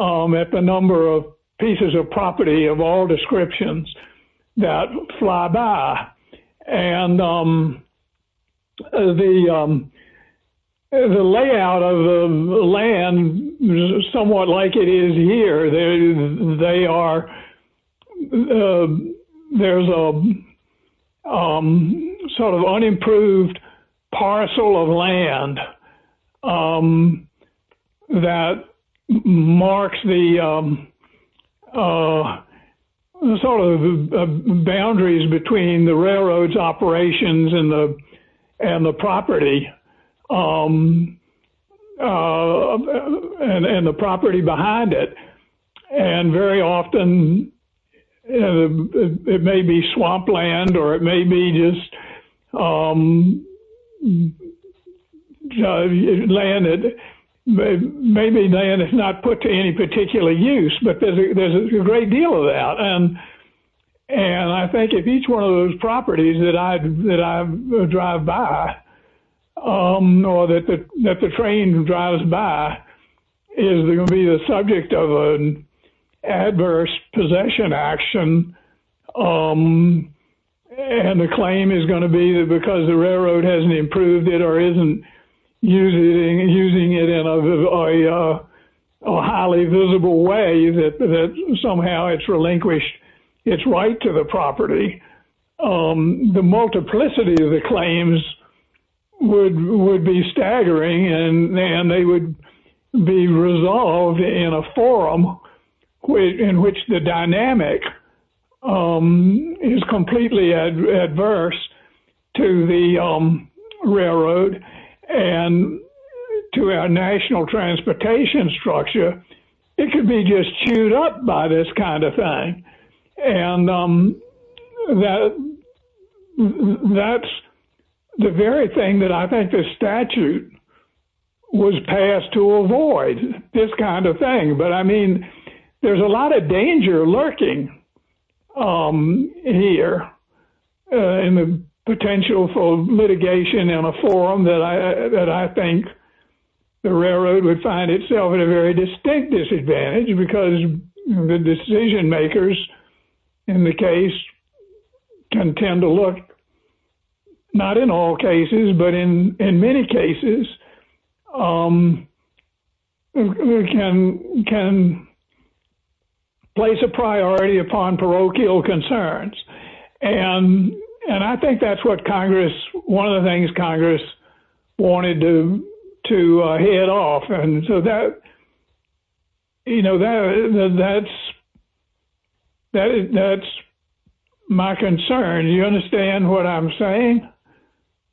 at the number of pieces of property of all descriptions that fly by. And the layout of the land is somewhat like it is here. There's a sort of unimproved parcel of land that marks the sort of boundaries between the railroad's operations and the property behind it. And very often it may be swamp land or it may be just land that's not put to any particular use, but there's a great deal of that. And I think if each one of those properties that I drive by or that the train drives by is going to be the subject of an adverse possession action, and the claim is going to be that because the railroad hasn't improved it or isn't using it in a highly visible way that somehow it's relinquished its right to the property, the multiplicity of the claims would be staggering, and they would be resolved in a forum in which the dynamic is completely adverse to the railroad and to our national transportation structure. It could be just chewed up by this kind of thing. And that's the very thing that I think the statute was passed to avoid, this kind of thing. But I mean, there's a lot of danger lurking here in the potential for litigation in a forum that I think the railroad would find itself at a very distinct disadvantage because the decision makers in the case can tend to look, not in all cases, but in many cases, can place a priority upon parochial concerns. And I think that's what Congress, one of the things Congress wanted to hit off. And so that, you know, that's my concern. Do you understand what I'm saying?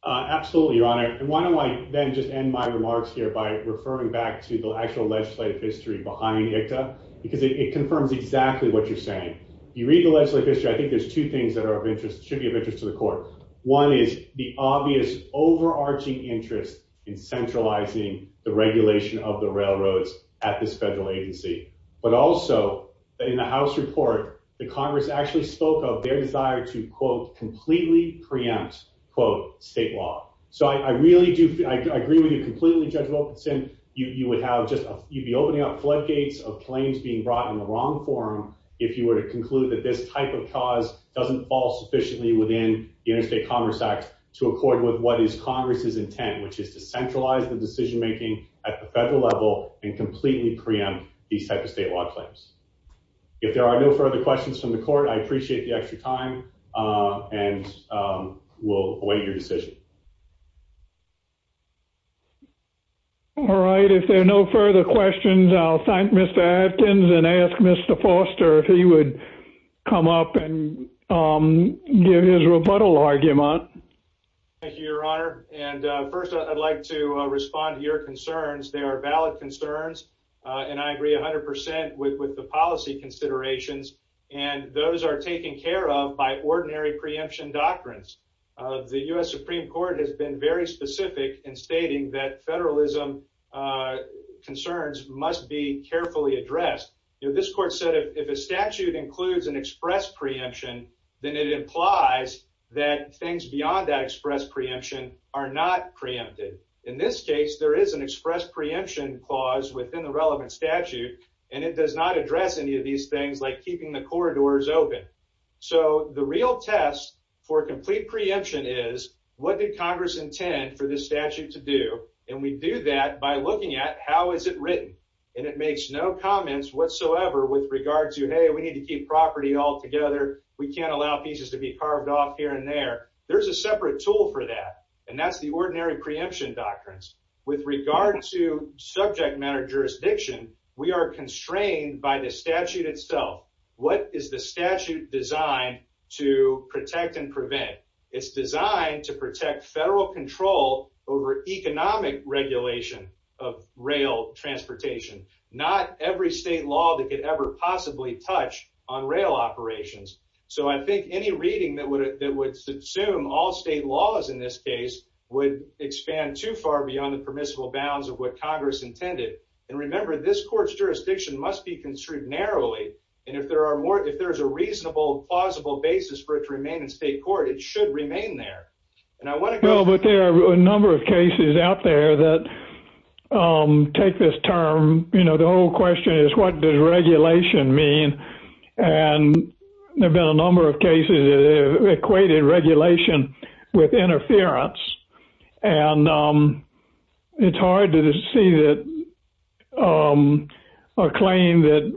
Absolutely, Your Honor. And why don't I then just end my remarks here by referring back to the actual legislative history behind ICTA, because it confirms exactly what you're saying. You read the legislative history, I think there's two things that are of interest, should be of interest to the court. One is the obvious overarching interest in centralizing the regulation of the railroads at this federal agency. But also, in the House report, the Congress actually spoke of their desire to, quote, completely preempt, quote, state law. So I really do, I agree with you completely, Judge Wilkinson. You would have just, you'd be opening up floodgates of claims being brought in the wrong forum if you were to conclude that this type of cause doesn't fall sufficiently within the Interstate Commerce Act to accord with what is Congress's intent, which is to centralize the decision making at the federal level and completely preempt these type of state law claims. If there are no further questions from the court, I appreciate the extra time, and we'll await your decision. All right, if there are no further questions, I'll thank Mr. Adkins and ask Mr. Foster if he would come up and give his rebuttal argument. Thank you, Your Honor. And first, I'd like to respond to your concerns. They are valid concerns, and I agree 100 percent with the policy considerations. And those are taken care of by ordinary preemption doctrines. The U.S. Supreme Court has been very specific in stating that federalism concerns must be carefully addressed. This court said if a statute includes an express preemption, then it implies that things beyond that express preemption are not preempted. In this case, there is an express preemption clause within the relevant statute, and it does not address any of these things like keeping the corridors open. So the real test for complete preemption is what did Congress intend for this statute to do, and we do that by looking at how is it written. And it makes no comments whatsoever with regard to, hey, we need to keep property all together. We can't allow pieces to be carved off here and there. There's a separate tool for that, and that's the ordinary preemption doctrines. With regard to subject matter jurisdiction, we are constrained by the statute itself. What is the statute designed to protect and prevent? It's designed to protect federal control over economic regulation of rail transportation, not every state law that could ever possibly touch on rail operations. So I think any reading that would subsume all state laws in this case would expand too far beyond the permissible bounds of what Congress intended. And remember, this court's jurisdiction must be construed narrowly, and if there is a reasonable, plausible basis for it to remain in state court, it should remain there. Well, but there are a number of cases out there that take this term. You know, the whole question is what does regulation mean? And there have been a number of cases that have equated regulation with interference, and it's hard to see a claim that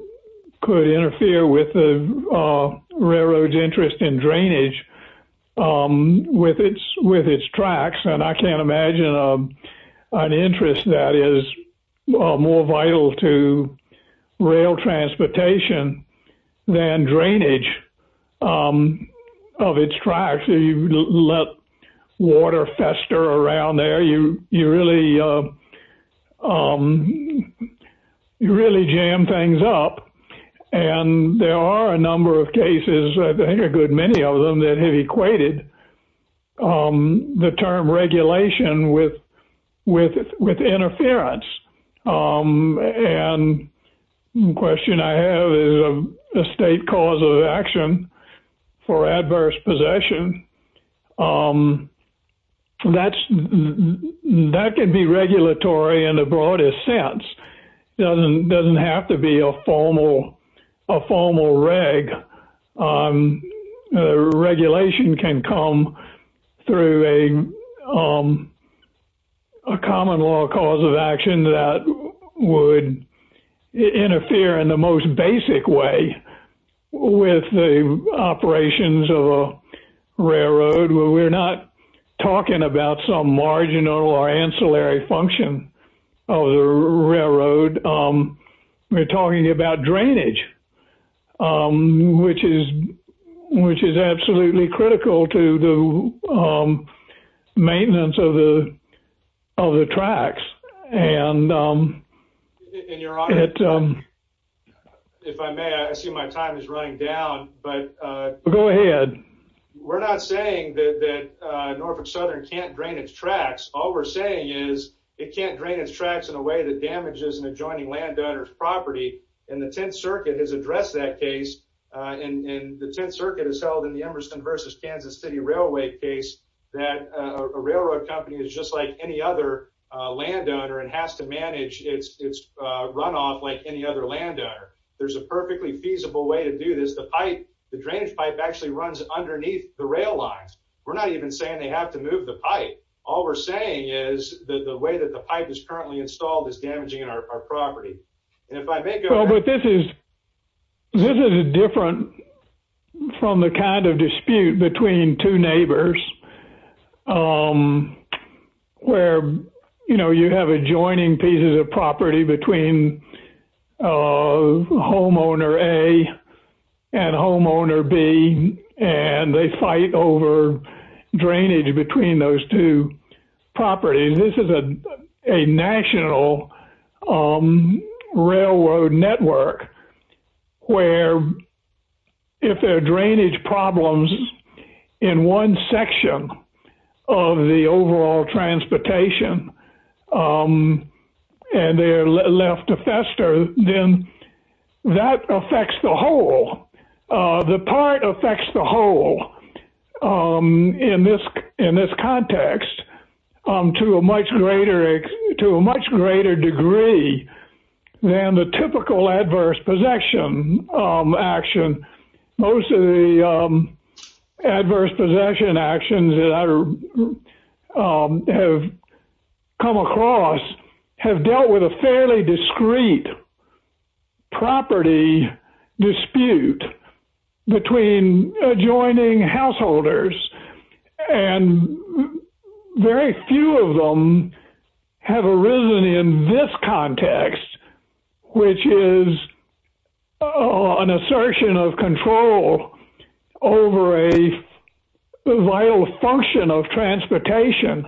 could interfere with the railroad's interest in drainage with its tracks, and I can't imagine an interest that is more vital to rail transportation than drainage of its tracks. You let water fester around there, you really jam things up. And there are a number of cases, I think a good many of them, that have equated the term regulation with interference. And the question I have is a state cause of action for adverse possession. That can be regulatory in the broadest sense. It doesn't have to be a formal reg. Regulation can come through a common law cause of action that would interfere in the most basic way with the operations of a railroad. We're not talking about some marginal or ancillary function of the railroad. We're talking about drainage, which is absolutely critical to the maintenance of the tracks. If I may, I see my time is running down. Go ahead. We're not saying that Norfolk Southern can't drain its tracks. All we're saying is it can't drain its tracks in a way that damages an adjoining landowner's property. And the Tenth Circuit has addressed that case. And the Tenth Circuit has held in the Emerson v. Kansas City Railway case that a railroad company is just like any other landowner and has to manage its runoff like any other landowner. There's a perfectly feasible way to do this. The drainage pipe actually runs underneath the rail lines. We're not even saying they have to move the pipe. All we're saying is that the way that the pipe is currently installed is damaging our property. And if I may, Governor? This is different from the kind of dispute between two neighbors where you have adjoining pieces of property between homeowner A and homeowner B and they fight over drainage between those two properties. This is a national railroad network where if there are drainage problems in one section of the overall transportation and they are left to fester, then that affects the whole. The part affects the whole in this context to a much greater degree than the typical adverse possession action. Most of the adverse possession actions that I have come across have dealt with a fairly discreet property dispute between adjoining householders and very few of them have arisen in this context which is an assertion of control over a vital function of transportation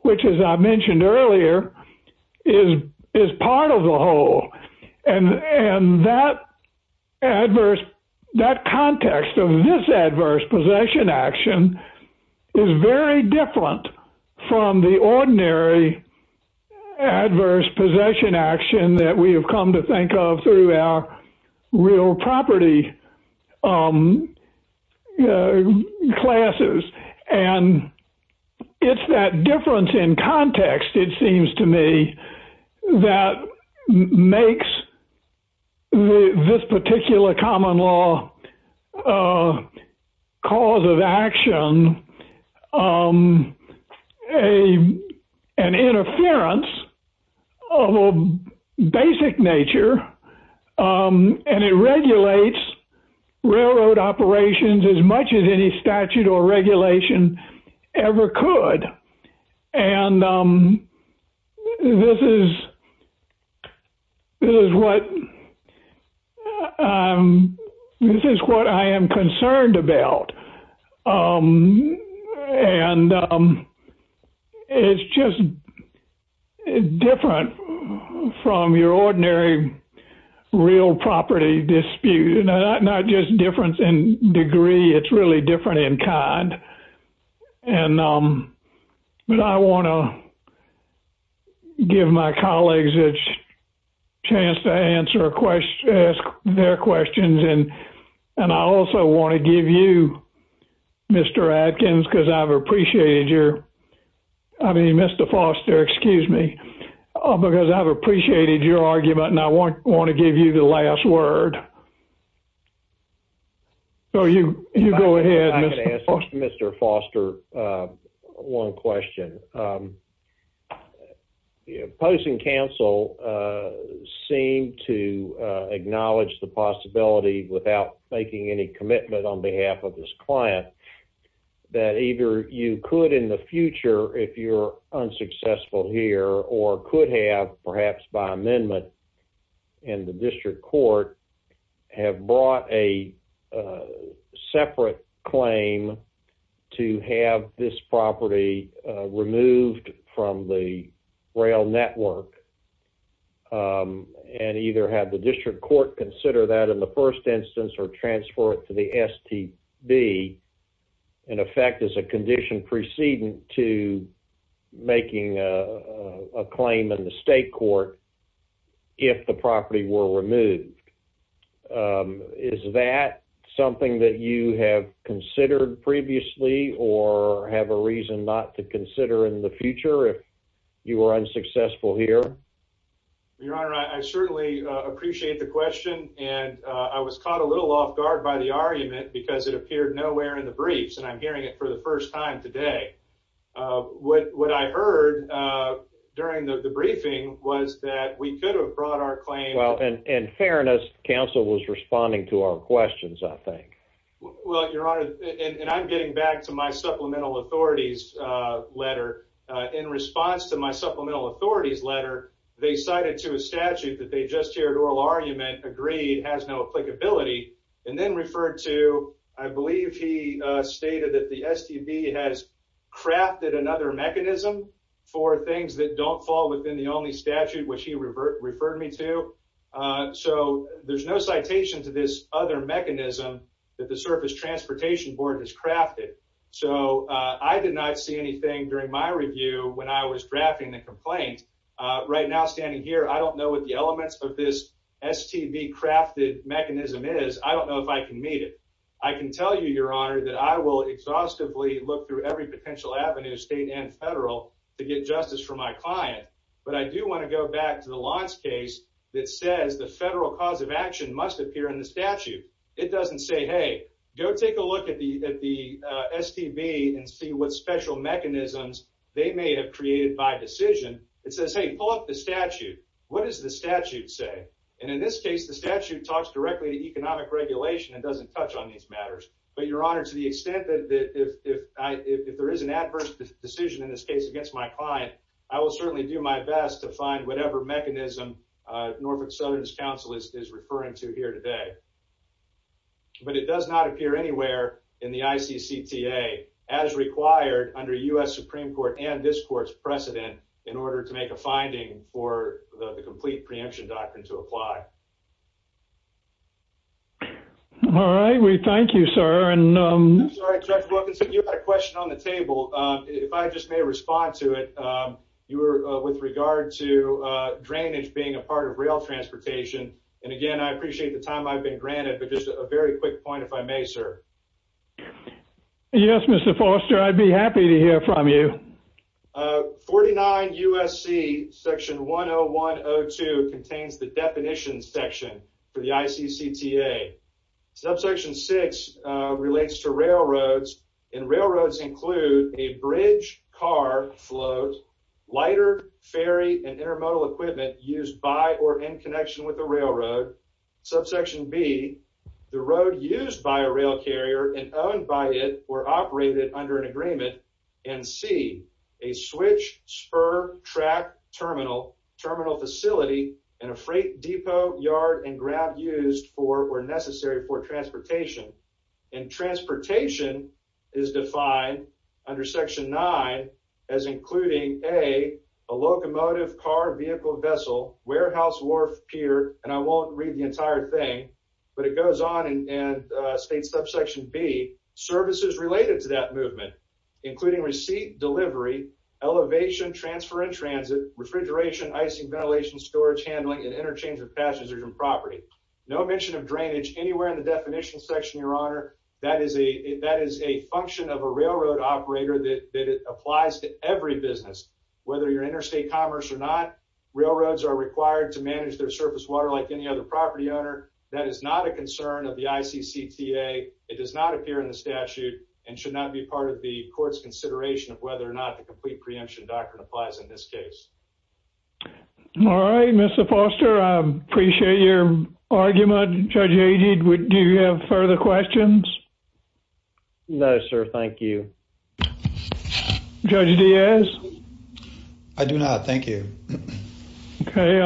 which as I mentioned earlier is part of the whole. And that context of this adverse possession action is very different from the ordinary adverse possession action that we have come to think of through our real property classes. And it's that difference in context it seems to me that makes this particular common law cause of action an interference of a basic nature and it regulates railroad operations as much as any statute or regulation ever could. And this is what I am concerned about. And it's just different from your ordinary real property dispute. Not just difference in degree, it's really different in kind. And I want to give my colleagues a chance to ask their questions and I also want to give you Mr. Adkins because I've appreciated your I mean Mr. Foster excuse me because I've appreciated your argument and I want to give you the last word. So you go ahead Mr. Foster. I'm going to ask Mr. Foster one question. Post and counsel seem to acknowledge the possibility without making any commitment on behalf of this client that either you could in the future if you're unsuccessful here or could have perhaps by amendment in the district court have brought a separate claim to have this property removed from the rail network and either have the district court consider that in the first instance or transfer it to the STB in effect as a condition precedent to making a claim in the state court if the property were removed. Is that something that you have considered previously or have a reason not to consider in the future if you were unsuccessful here? Your Honor, I certainly appreciate the question and I was caught a little off guard by the argument because it appeared nowhere in the briefs and I'm hearing it for the first time today. What I heard during the briefing was that we could have brought our claim Well, in fairness, counsel was responding to our questions I think. Well, Your Honor, and I'm getting back to my supplemental authorities letter. In response to my supplemental authorities letter they cited to a statute that they just heard oral argument agreed has no applicability and then referred to I believe he stated that the STB has crafted another mechanism for things that don't fall within the only statute which he referred me to. So there's no citation to this other mechanism that the surface transportation board has crafted. So I did not see anything during my review when I was drafting the complaint. Right now standing here, I don't know what the elements of this STB crafted mechanism is. I don't know if I can meet it. I can tell you, Your Honor, that I will exhaustively look through every potential avenue state and federal to get justice for my client. But I do want to go back to the launch case that says the federal cause of action must appear in the statute. It doesn't say, hey, go take a look at the STB and see what special mechanisms they may have created by decision. It says, hey, pull up the statute. What does the statute say? And in this case, the statute talks directly to economic regulation and doesn't touch on these matters. But, Your Honor, to the extent that if there is an adverse decision in this case against my client, I will certainly do my best to find whatever mechanism Norfolk Southerners Council is referring to here today. But it does not appear anywhere in the ICCTA as required under U.S. Supreme Court and this court's precedent in order to make a finding for the complete preemption doctrine to apply. All right. We thank you, sir. I'm sorry, Judge Wilkinson, you had a question on the table. If I just may respond to it. You were with regard to drainage being a part of rail transportation. And, again, I appreciate the time I've been granted, but just a very quick point, if I may, sir. Yes, Mr. Foster, I'd be happy to hear from you. 49 U.S.C. Section 101-02 contains the definitions section for the ICCTA. Subsection 6 relates to railroads, and railroads include a bridge, car, float, lighter, ferry, and intermodal equipment used by or in connection with a railroad. Subsection B, the road used by a rail carrier and owned by it or operated under an agreement. And C, a switch, spur, track, terminal, terminal facility, and a freight depot, yard, and grab used for or necessary for transportation. And transportation is defined under Section 9 as including A, a locomotive, car, vehicle, vessel, warehouse, wharf, pier, and I won't read the entire thing, but it goes on and states, Subsection B, services related to that movement, including receipt, delivery, elevation, transfer and transit, refrigeration, icing, ventilation, storage, handling, and interchange of passengers and property. No mention of drainage anywhere in the definition section, Your Honor. That is a function of a railroad operator that applies to every business. Whether you're interstate commerce or not, railroads are required to manage their surface water like any other property owner. That is not a concern of the ICCTA. It does not appear in the statute and should not be part of the court's consideration of whether or not the complete preemption doctrine applies in this case. All right. Mr. Foster, I appreciate your argument. Judge Haged, do you have further questions? No, sir. Thank you. Judge Diaz? I do not. Thank you. Okay.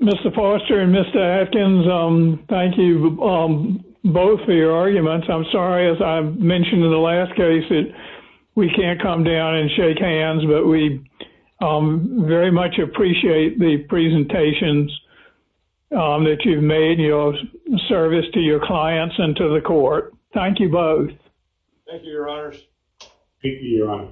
Mr. Foster and Mr. Atkins, thank you both for your arguments. I'm sorry, as I mentioned in the last case, that we can't come down and shake hands, but we very much appreciate the presentations that you've made in your service to your clients and to the court. Thank you both. Thank you, Your Honors. Thank you, Your Honor.